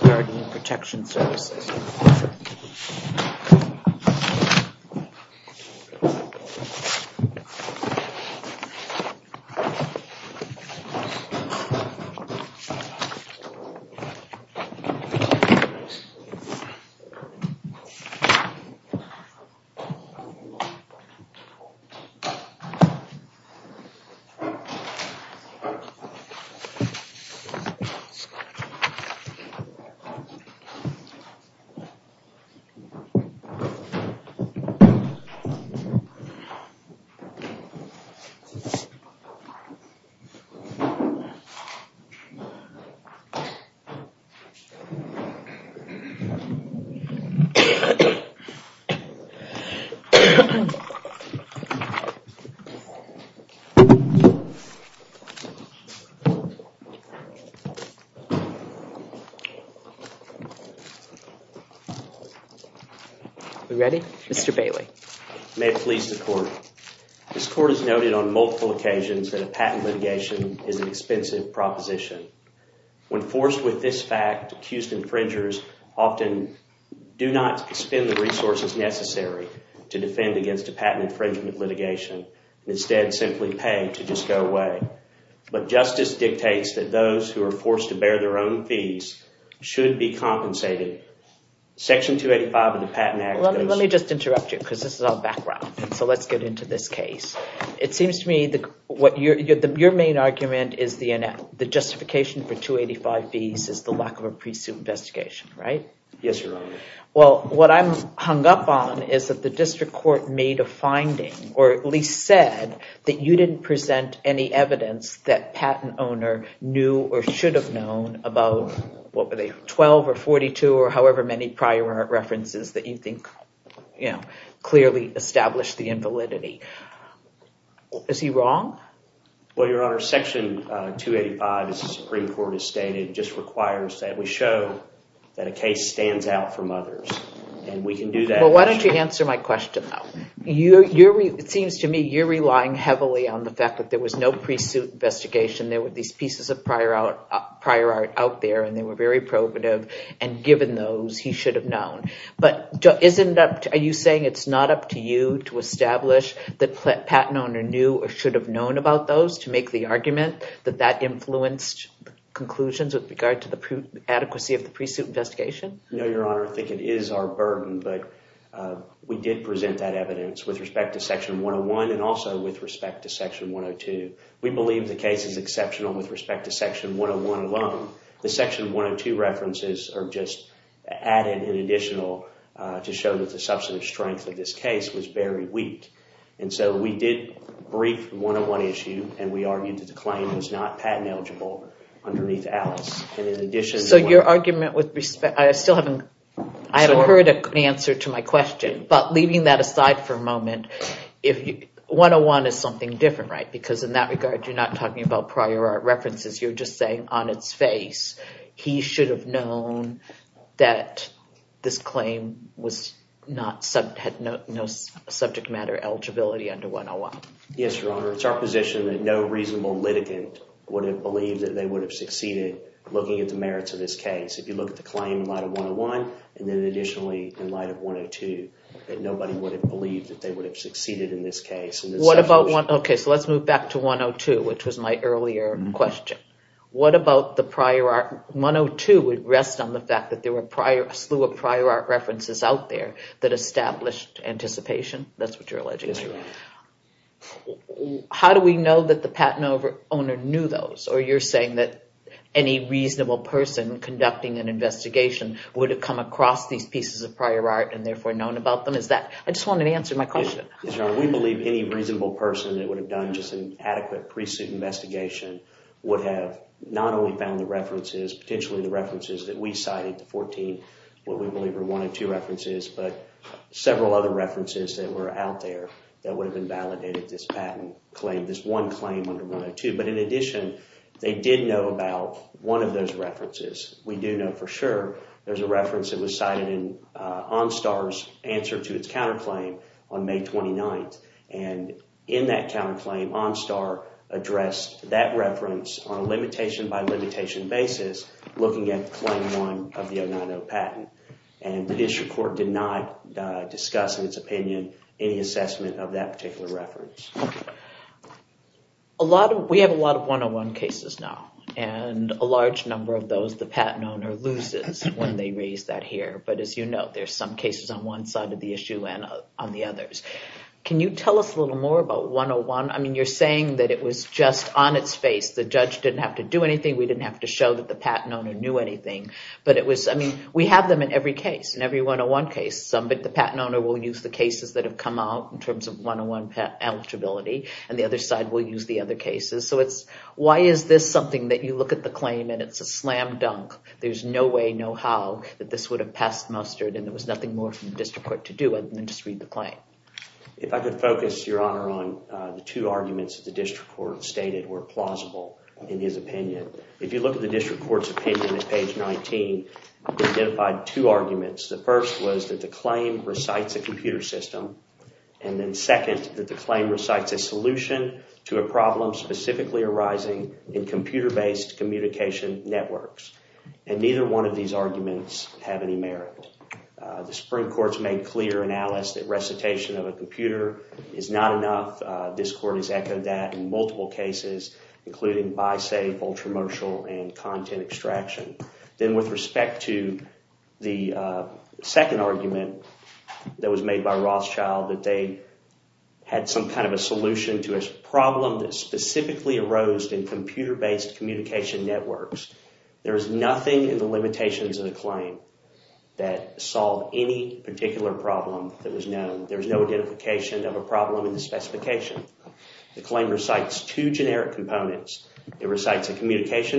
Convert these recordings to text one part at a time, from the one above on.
Guardian Protection Services May it please the Court, this Court has noted on multiple occasions that a patent litigation is an expensive proposition. When forced with this fact, accused infringers often do not spend the resources necessary to defend against a patent infringement litigation and instead simply pay to just go away. But justice dictates that those who are forced to bear their own fees should be compensated. Section 285 of the Patent Act... Let me just interrupt you because this is all background, so let's get into this case. It seems to me that your main argument is the justification for 285 fees is the lack of a pre-suit investigation, right? Yes, Your Honor. Well, what I'm hung up on is that the District Court made a finding, or at least said, that you didn't present any evidence that the patent owner knew or should have known about 12 or 42 or however many prior references that you think clearly established the invalidity. Is he wrong? Well, Your Honor, Section 285, as the Supreme Court has stated, just requires that we show that a case stands out from others, and we can do that... Well, why don't you answer my question, though? It seems to me you're relying heavily on the fact that there was no pre-suit investigation. There were these pieces of prior art out there, and they were very probative, and given those, he should have known. But are you saying it's not up to you to establish that patent owner knew or should have known about those to make the argument that that influenced conclusions with regard to the adequacy of the pre-suit investigation? No, Your Honor. I think it is our burden, but we did present that evidence with respect to Section 101 and also with respect to Section 102. We believe the case is exceptional with respect to Section 101 alone. The Section 102 references are just added in additional to show that the substantive strength of this case was very weak. And so we did brief the 101 issue, and we argued that the claim was not patent eligible underneath Alice. And in addition... I still haven't heard an answer to my question, but leaving that aside for a moment, 101 is something different, right? Because in that regard, you're not talking about prior art references. You're just saying on its face, he should have known that this claim had no subject matter eligibility under 101. Yes, Your Honor. It's our position that no reasonable litigant would have believed that they would have succeeded looking at the merits of this case. If you look at the claim in light of 101, and then additionally in light of 102, that nobody would have believed that they would have succeeded in this case. Okay, so let's move back to 102, which was my earlier question. What about the prior art... 102 would rest on the fact that there were a slew of prior art references out there that established anticipation. That's what you're alleging. How do we know that the patent owner knew those? Or you're saying that any reasonable person conducting an investigation would have come across these pieces of prior art and therefore known about them? I just wanted to answer my question. We believe any reasonable person that would have done just an adequate pre-suit investigation would have not only found the references, potentially the references that we cited, the 14, what we believe are 102 references, but several other references that were out there that would have invalidated this patent claim, this one claim under 102. But in addition, they did know about one of those references. We do know for sure there's a reference that was cited in OnStar's answer to its counterclaim on May 29th. And in that counterclaim, OnStar addressed that reference on a limitation-by-limitation basis, looking at claim one of the 090 patent. And the district court did not discuss in its opinion any assessment of that particular reference. We have a lot of 101 cases now, and a large number of those the patent owner loses when they raise that here. But as you know, there's some cases on one side of the issue and on the others. Can you tell us a little more about 101? I mean, you're saying that it was just on its face. The judge didn't have to do anything. We didn't have to show that the patent owner knew anything. But we have them in every case, in every 101 case. But the patent owner will use the cases that have come out in terms of 101 eligibility, and the other side will use the other cases. So it's, why is this something that you look at the claim and it's a slam dunk? There's no way, no how, that this would have passed mustard and there was nothing more for the district court to do other than just read the claim. If I could focus, Your Honor, on the two arguments that the district court stated were plausible in his opinion. If you look at the district court's page 19, it identified two arguments. The first was that the claim recites a computer system, and then second, that the claim recites a solution to a problem specifically arising in computer-based communication networks. And neither one of these arguments have any merit. The Supreme Court's made clear in Alice that recitation of a computer is not enough. This is a controversial and content extraction. Then with respect to the second argument that was made by Rothschild, that they had some kind of a solution to a problem that specifically arose in computer-based communication networks. There is nothing in the limitations of the claim that solved any particular problem that was known. There's no identification of a problem in the communication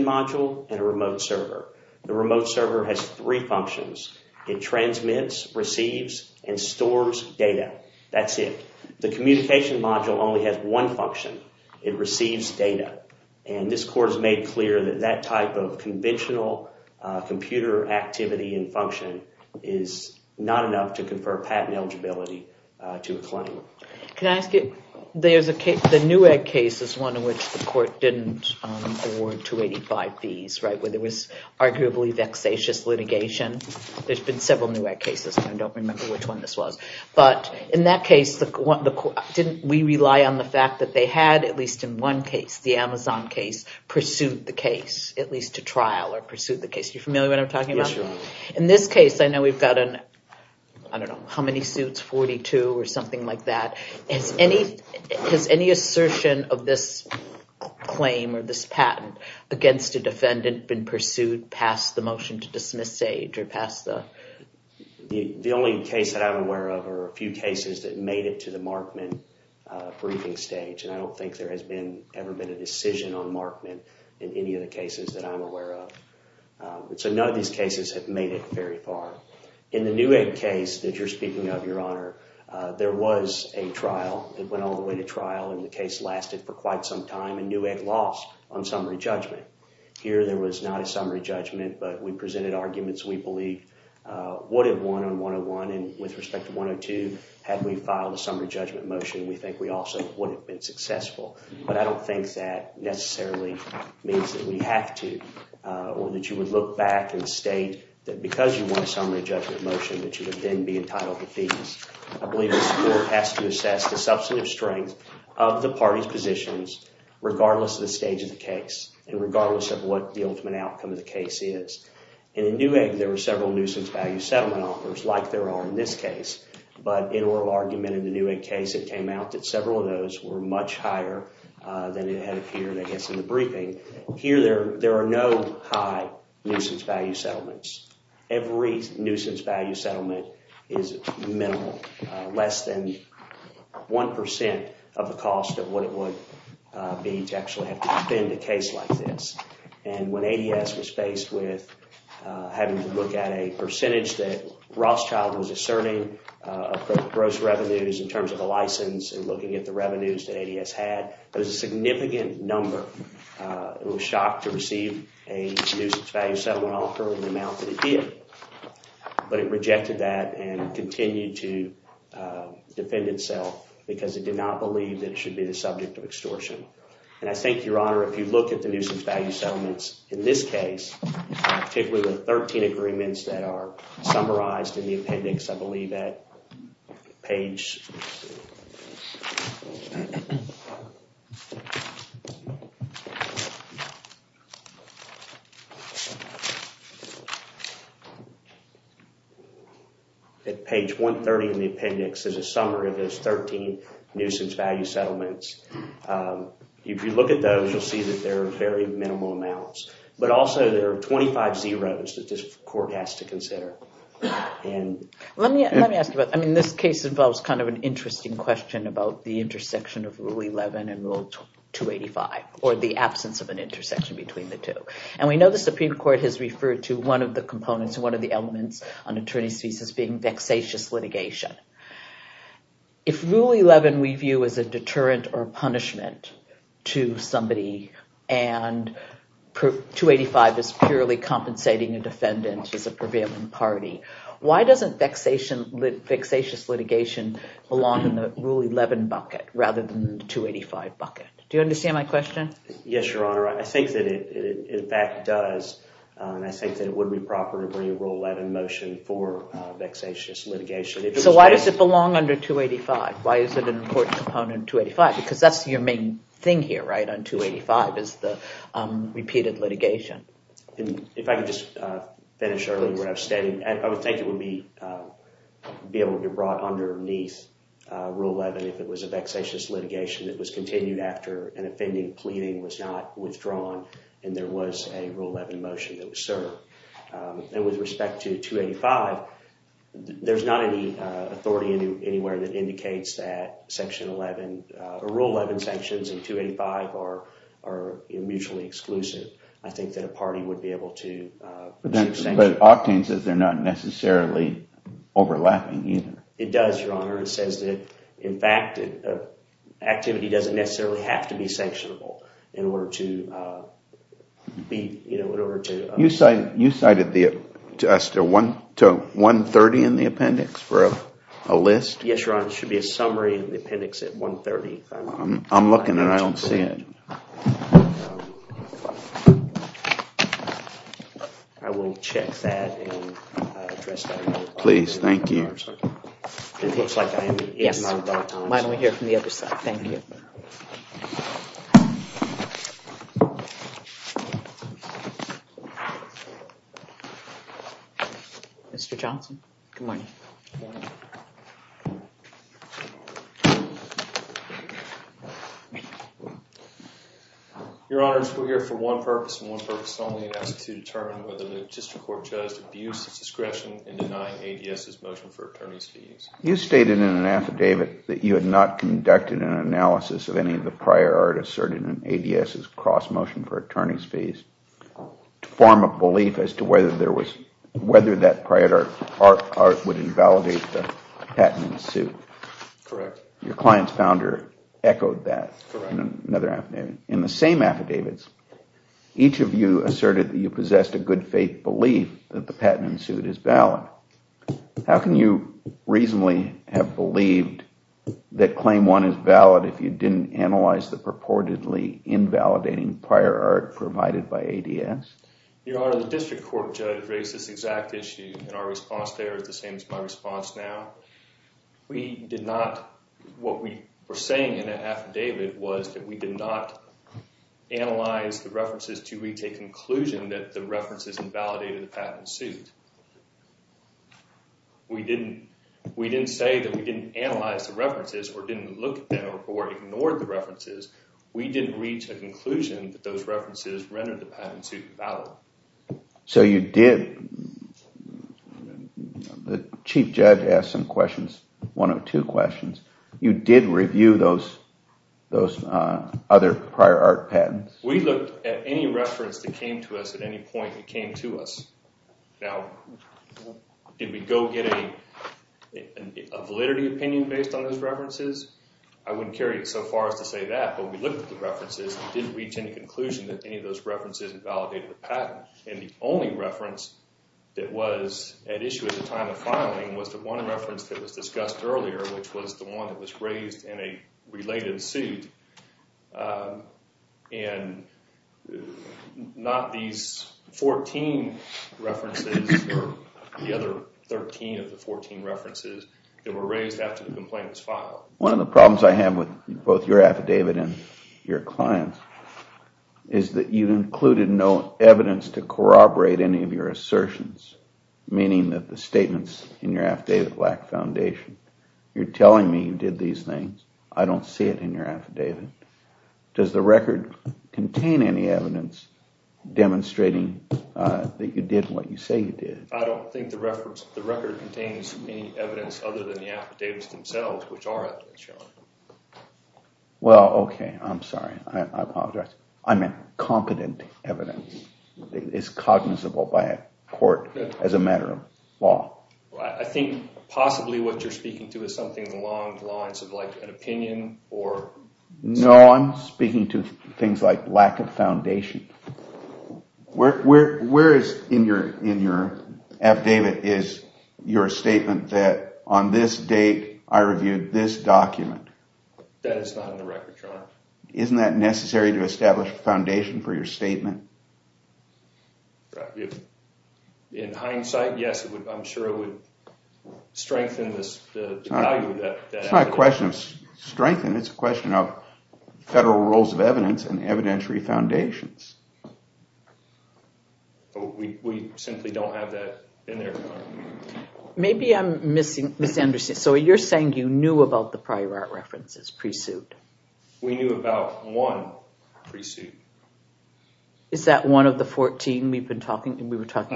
module and a remote server. The remote server has three functions. It transmits, receives, and stores data. That's it. The communication module only has one function. It receives data. And this court has made clear that that type of conventional computer activity and function is not enough to confer patent eligibility to a claim. Can I ask you, there's a case, the Newegg case is one in which the court didn't award 285 fees, right, where there was arguably vexatious litigation. There's been several Newegg cases, and I don't remember which one this was. But in that case, didn't we rely on the fact that they had, at least in one case, the Amazon case, pursued the case, at least to trial or pursue the case. You familiar what I'm talking about? In this case, I know we've got an, I don't know if you've seen that. Has any assertion of this claim or this patent against a defendant been pursued past the motion to dismiss stage or past the... The only case that I'm aware of are a few cases that made it to the Markman briefing stage, and I don't think there has been ever been a decision on Markman in any of the cases that I'm aware of. So none of these cases have made it very far. In the Newegg case that you're speaking of, Your Honor, there was a trial. It went all the way to trial, and the case lasted for quite some time, and Newegg lost on summary judgment. Here, there was not a summary judgment, but we presented arguments we believe would have won on 101, and with respect to 102, had we filed a summary judgment motion, we think we also would have been successful. But I don't think that necessarily means that we have to, or that you would look back and state that because you won a summary judgment motion that you would then be entitled to fees. I believe this Court has to assess the substantive strength of the party's positions regardless of the stage of the case and regardless of what the ultimate outcome of the case is. And in Newegg, there were several nuisance value settlement offers like there are in this case, but in oral argument in the Newegg case, it came out that several of those were much higher than it had appeared, I guess, in the briefing. Here, there are no high nuisance value settlements. Every nuisance value settlement is minimal, less than one percent of the cost of what it would be to actually have to defend a case like this. And when ADS was faced with having to look at a percentage that Rothschild was asserting of gross revenues in terms of a license and looking at the significant number, it was shocked to receive a nuisance value settlement offer in the amount that it did. But it rejected that and continued to defend itself because it did not believe that it should be the subject of extortion. And I think, Your Honor, if you look at the nuisance value settlements in this case, particularly the 13 agreements that are summarized in the appendix, I believe at page 130 in the appendix is a summary of those 13 nuisance value settlements. If you look at those, you'll see that there are very minimal amounts, but also there are 25 zeros that this court has to consider. And let me ask you about, I mean, this case involves kind of an interesting question about the intersection of Rule 11 and Rule 285, or the absence of an intersection between the two. And we know the Supreme Court has referred to one of the components, one of the elements on attorney's thesis being vexatious litigation. If Rule 11 we view as a deterrent or punishment to somebody and 285 is purely compensating a defendant as a prevailing party, why doesn't vexatious litigation belong in the Rule 11 bucket rather than the 285 bucket? Do you understand my question? Yes, Your Honor. I think that it in fact does. I think that it would be proper to bring a Rule 11 motion for vexatious litigation. So why does it belong under 285? Why is it an important component in 285? Because that's your thing here, right? On 285 is the repeated litigation. If I could just finish early where I was standing, I would think it would be able to be brought underneath Rule 11 if it was a vexatious litigation that was continued after an offending pleading was not withdrawn and there was a Rule 11 motion that was served. And with respect to 285, there's not any authority anywhere that indicates that Rule 11 sanctions and 285 are mutually exclusive. I think that a party would be able to... But Octane says they're not necessarily overlapping either. It does, Your Honor. It says that, in fact, activity doesn't necessarily have to be sanctionable in order to... You cited us to 130 in the appendix for a list? Yes, Your Honor. It should be a summary in the appendix at 130. I'm looking and I don't see it. I will check that and address that. Please, thank you. Mr. Johnson, good morning. Your Honor, we're here for one purpose and one purpose only, and that's to determine whether the district court judged abuse of discretion in denying ADS's motion for attorney's fees. You stated in an affidavit that you had not conducted an analysis of any of the prior art asserted in ADS's cross motion for attorney's fees to form a belief as to whether that prior art would invalidate the patent in suit. Your client's founder echoed that in another affidavit. In the same affidavits, each of you asserted that you possessed a good faith belief that the patent in suit is valid. How can you reasonably have believed that claim one is valid if you didn't analyze the purportedly invalidating prior art provided by ADS? Your Honor, the district court raised this exact issue and our response there is the same as my response now. What we were saying in that affidavit was that we did not analyze the references to reach a conclusion that the references invalidated the patent in suit. We didn't say that we didn't analyze the references or didn't look at them or ignored the references. We didn't reach a conclusion that those references rendered the patent in suit valid. So you did, the chief judge asked some questions, one or two questions, you did review those other prior art patents? We looked at any reference that came to us at any point that came to us. Now, did we go get a validity opinion based on those references? I wouldn't carry it so far as to say that, but we looked at the references and didn't reach any conclusion that any of those and the only reference that was at issue at the time of filing was the one reference that was discussed earlier which was the one that was raised in a related suit and not these 14 references or the other 13 of the 14 references that were raised after the complaint was filed. One of the problems I have with both your affidavit and your client is that you've included no evidence to corroborate any of your assertions, meaning that the statements in your affidavit lack foundation. You're telling me you did these things. I don't see it in your affidavit. Does the record contain any evidence demonstrating that you did what you say you did? I don't think the record contains any evidence other than the I meant competent evidence that is cognizable by a court as a matter of law. I think possibly what you're speaking to is something along the lines of like an opinion. No, I'm speaking to things like lack of foundation. Where is in your affidavit is your statement that on this date I reviewed this document? That is not in the record, Your Honor. Isn't that necessary to establish a foundation for your statement? In hindsight, yes, I'm sure it would strengthen the value of that. It's not a question of strengthening, it's a question of federal rules of evidence and evidentiary foundations. We simply don't have that in there. Maybe I'm misunderstanding. So you're saying you knew about the prior art references pre-suit? We knew about one pre-suit. Is that one of the 14 we were talking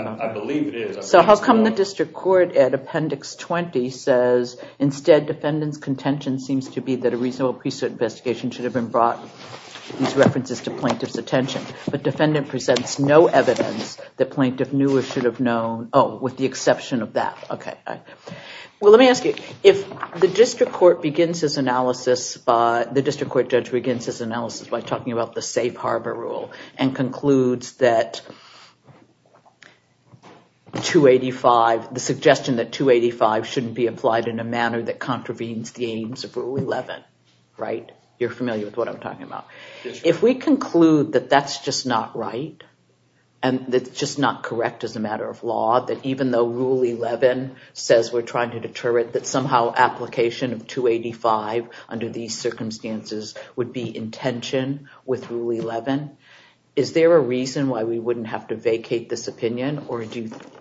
about? I believe it is. So how come the district court at Appendix 20 says instead defendant's contention seems to be that a reasonable pre-suit investigation should have been brought these references to plaintiff's attention, but defendant presents no evidence that plaintiff knew or should have known with the exception of that? Let me ask you, if the district court judge begins his analysis by talking about the safe harbor rule and concludes that the suggestion that 285 shouldn't be applied in a manner that contravenes the aims of Rule 11, you're familiar with what I'm talking about. If we conclude that that's just not right, and that's just not correct as a matter of law, that even though Rule 11 says we're trying to deter it, that somehow application of 285 under these circumstances would be in tension with Rule 11, is there a reason why we wouldn't have to vacate this opinion, or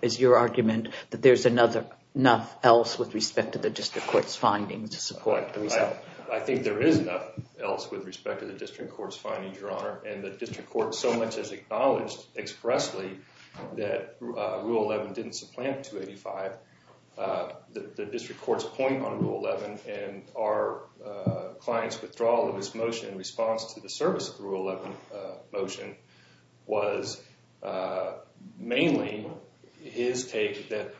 is your argument that there's enough else with respect to the district court's findings? I think there is enough else with respect to the district court's findings, Your Honor, and the district court so much as acknowledged expressly that Rule 11 didn't supplant 285. The district court's point on Rule 11 and our client's withdrawal of his motion in response to the service of the Rule 11 motion was mainly his take that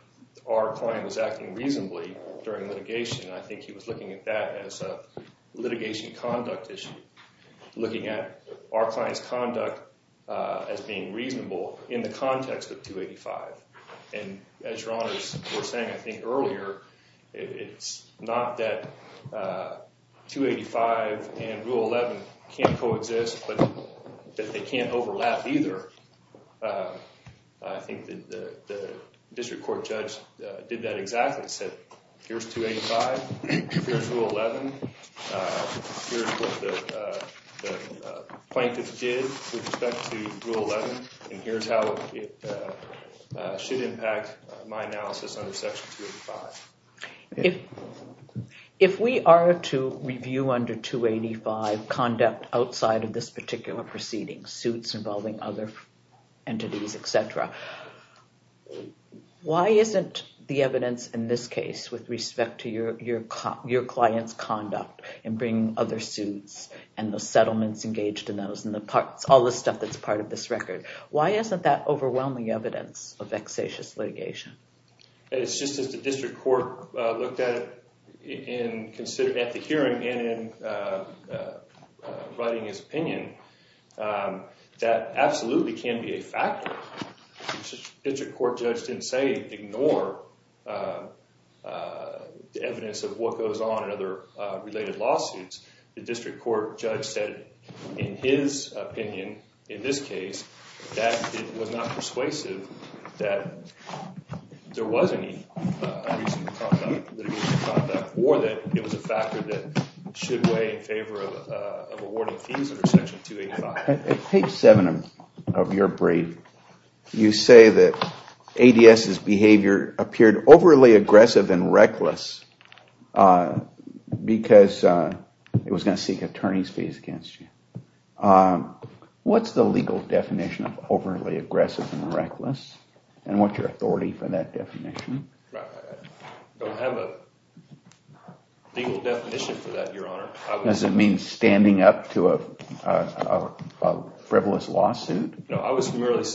our client was acting reasonably during litigation. I think he was looking at that as a litigation conduct issue, looking at our client's conduct as being reasonable in the context of 285, and as Your Honor's were saying I think earlier, it's not that 285 and Rule 11 can't coexist, but that they can't overlap either. I think that the district court judge did that exactly, said here's 285, here's Rule 11, here's what the plaintiff did with respect to Rule 11, and here's how it should impact my analysis under Section 285. If we are to review under 285 conduct outside of this particular proceeding, suits involving other entities, etc., why isn't the evidence in this with respect to your client's conduct in bringing other suits and the settlements engaged in those and all the stuff that's part of this record, why isn't that overwhelming evidence of vexatious litigation? It's just as the district court looked at it and considered at the hearing and in writing his opinion, that absolutely can be a factor. The district court judge didn't say ignore the evidence of what goes on in other related lawsuits. The district court judge said in his opinion, in this case, that it was not persuasive that there was any unreasonable conduct or that it was a factor that should weigh in favor of awarding fees under Section 285. Page 7 of your report said that this behavior appeared overly aggressive and reckless because it was going to seek attorney's fees against you. What's the legal definition of overly aggressive and reckless and what's your authority for that definition? I don't have a legal definition for that, your honor. Does it mean standing up to a lawsuit? No, I was merely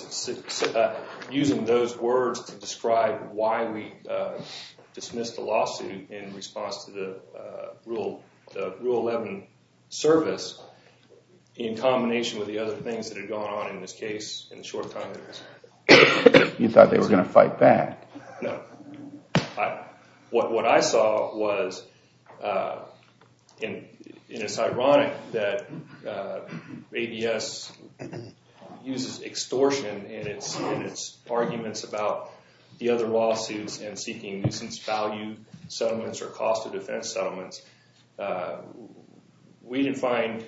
using those words to describe why we dismissed the lawsuit in response to the Rule 11 service in combination with the other things that had gone on in this case. You thought they were going to fight back? No, what I saw was, and it's ironic that ADS uses extortion in its arguments about the other lawsuits and seeking nuisance value settlements or cost of defense settlements. We didn't find,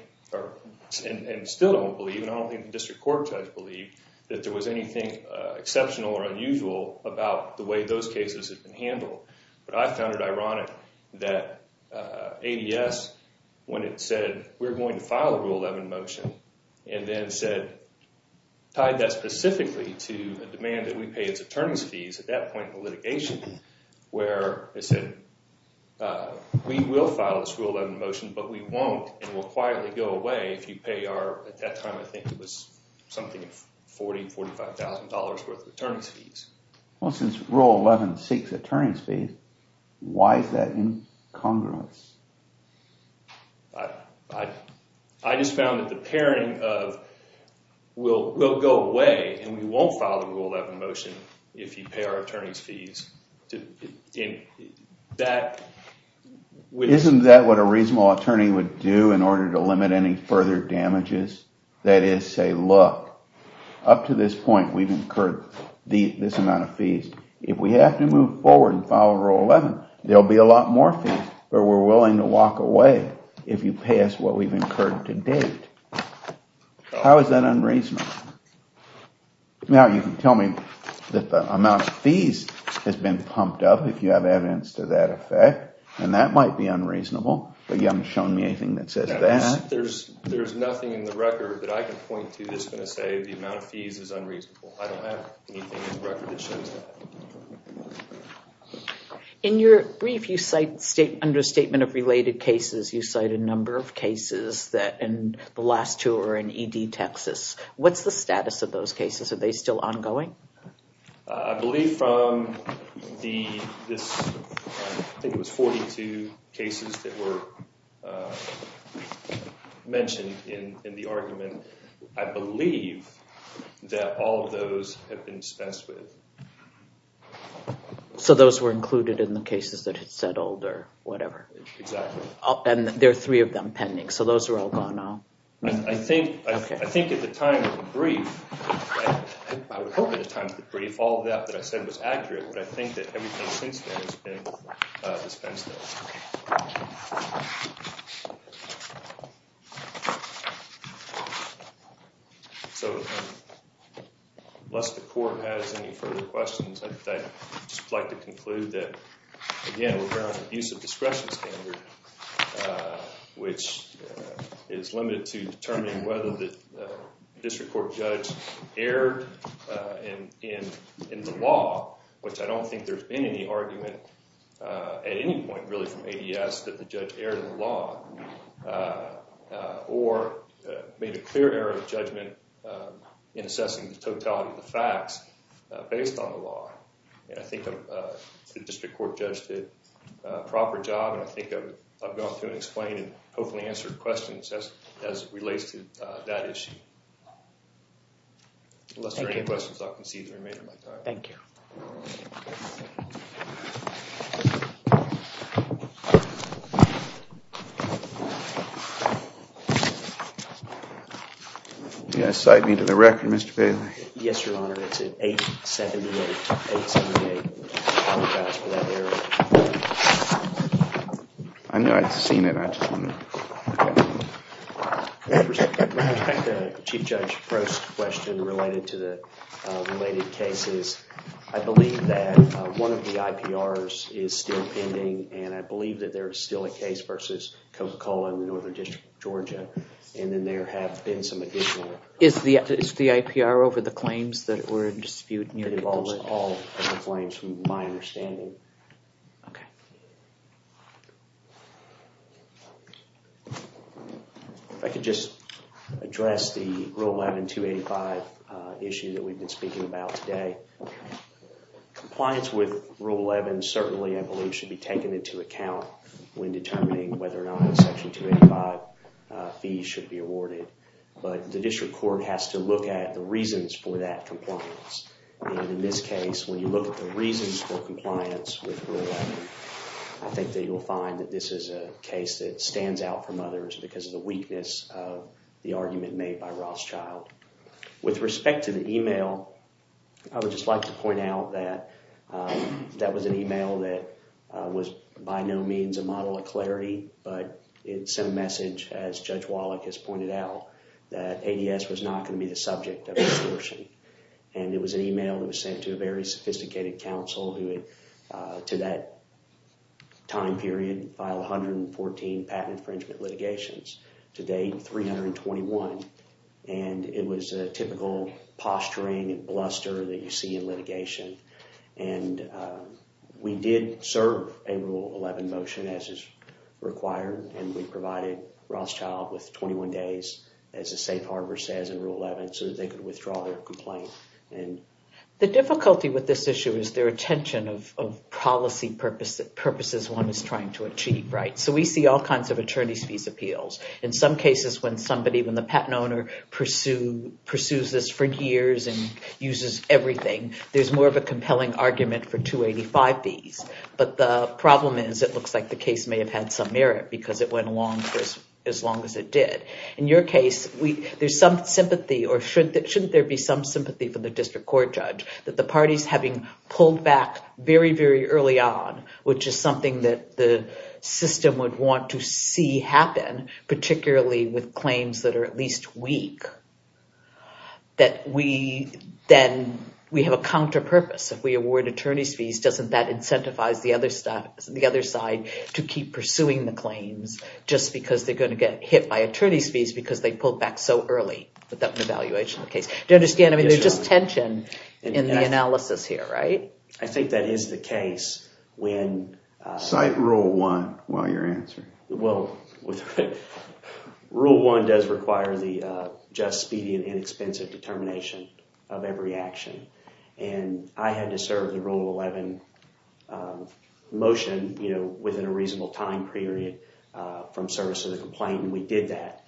and still don't believe, and I don't think the district court judge believed, that there was anything exceptional or unusual about the way those cases have been handled. But I found it ironic that ADS, when it said we're going to file Rule 11 motion and then said, tied that specifically to a demand that we pay its attorney's fees at that point in the litigation, where it said we will file this Rule 11 motion but we won't and we'll quietly go away if you pay our, at that time I think it was something 40-45,000 dollars worth of attorney's fees. Well, since Rule 11 seeks attorney's fees, why is that incongruence? I just found that the pairing of we'll go away and we won't file the Rule 11 motion if you pay our attorney's fees. Isn't that what a reasonable attorney would do in order to limit any further damages? That is, say, look, up to this point we've incurred this amount of fees. If we have to move forward and file Rule 11, there'll be a lot more fees, but we're willing to walk away if you pay us what we've incurred to date. How is that unreasonable? Now you can tell me that the amount of fees has been pumped up, if you have evidence to that effect, and that might be there's nothing in the record that I can point to that's going to say the amount of fees is unreasonable. I don't have anything in the record that shows that. In your brief, you cite understatement of related cases, you cite a number of cases that in the last two are in E.D. Texas. What's the status of those cases? Are they still ongoing? I believe from this, I think it was 42 cases that were mentioned in the argument, I believe that all of those have been dispensed with. So those were included in the cases that had settled or whatever? Exactly. And there are them pending, so those are all gone now? I think at the time of the brief, I would hope at the time of the brief, all of that that I said was accurate, but I think that everything since then has been dispensed with. So unless the Court has any further questions, I'd just like to conclude that, again, we're on the use of discretion standard, which is limited to determining whether the District Court judge erred in the law, which I don't think there's been any argument at any point really from A.D.S. that the judge erred in the law, or made a clear error of judgment in assessing the totality of the facts based on the law. And I think the District Court judge did a proper job, and I think I've gone through and explained and hopefully answered questions as relates to that issue. Unless there are any questions, I'll concede the remainder of my time. Thank you. I believe that one of the IPRs is still pending, and I believe that there is still a case versus Coca-Cola in the Northern District of Georgia, and then there have been some additional... Is the IPR over the claims that were in dispute? It involves all of the claims from my understanding. I could just address the Rule 11-285 issue that we've been speaking about today. Compliance with Rule 11 certainly, I believe, should be taken into account when determining whether or not Section 285 fees should be awarded, but the District Court has to look at the reasons for that compliance. And in this case, when you look at the reasons for compliance with Rule 11, I think that you'll find that this is a case that stands out from others because of the weakness of the argument made by Rothschild. With respect to the email, I would just like to point out that that was an email that was by no means a model of clarity, but it sent a message, as Judge Wallach has pointed out, that ADS was not going to be the subject of the extortion. And it was an email that was sent to a very sophisticated counsel who, to that time period, filed 114 patent infringement litigations. To date, 321. And it was a typical posturing and bluster that you see in litigation. And we did serve a Rule 11 motion, as is required, and we provided Rothschild with 21 days, as the safe harbor says in Rule 11, so that they could withdraw their complaint. The difficulty with this issue is their attention of policy purposes one is trying to achieve, so we see all kinds of attorney's fees appeals. In some cases, when the patent owner pursues this for years and uses everything, there's more of a compelling argument for 285 fees. But the problem is it looks like the case may have had some merit because it went along for as long as it did. In your case, there's some sympathy, or shouldn't there be some sympathy for the District Court judge, that the parties having pulled back very, very early on, which is something that the system would want to see happen, particularly with claims that are at least weak, that then we have a counter-purpose. If we award attorney's fees, doesn't that incentivize the other side to keep pursuing the claims just because they're going to get hit by attorney's fees because they pulled back so early without an evaluation of the case? Do you understand? I mean, there's just tension in the analysis here, right? I think that is the case when... Cite Rule 1 while you're answering. Well, Rule 1 does require the just, speedy, and inexpensive determination of every action, and I had to serve the Rule 11 motion, you know, within a reasonable time period from service of the complaint, and we did that,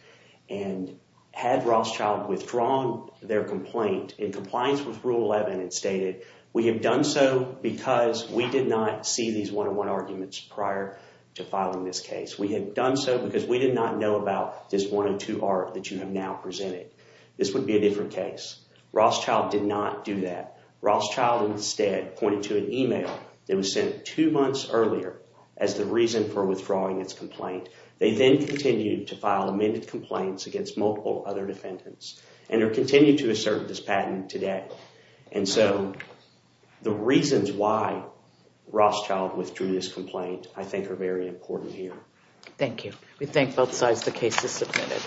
and had Rothschild withdrawn their complaint in compliance with Rule 11 and stated, we have done so because we did not see these one-on-one arguments prior to filing this case. We had done so because we did not know about this one-on-two art that you have now presented. This would be a different case. Rothschild did not do that. Rothschild instead pointed to an email that was sent two months earlier as the reason for withdrawing its complaint. They then continued to file amended complaints against multiple other defendants, and are continuing to assert this patent today, and so the reasons why Rothschild withdrew this complaint I think are very important here. Thank you. We thank both sides. The case is submitted.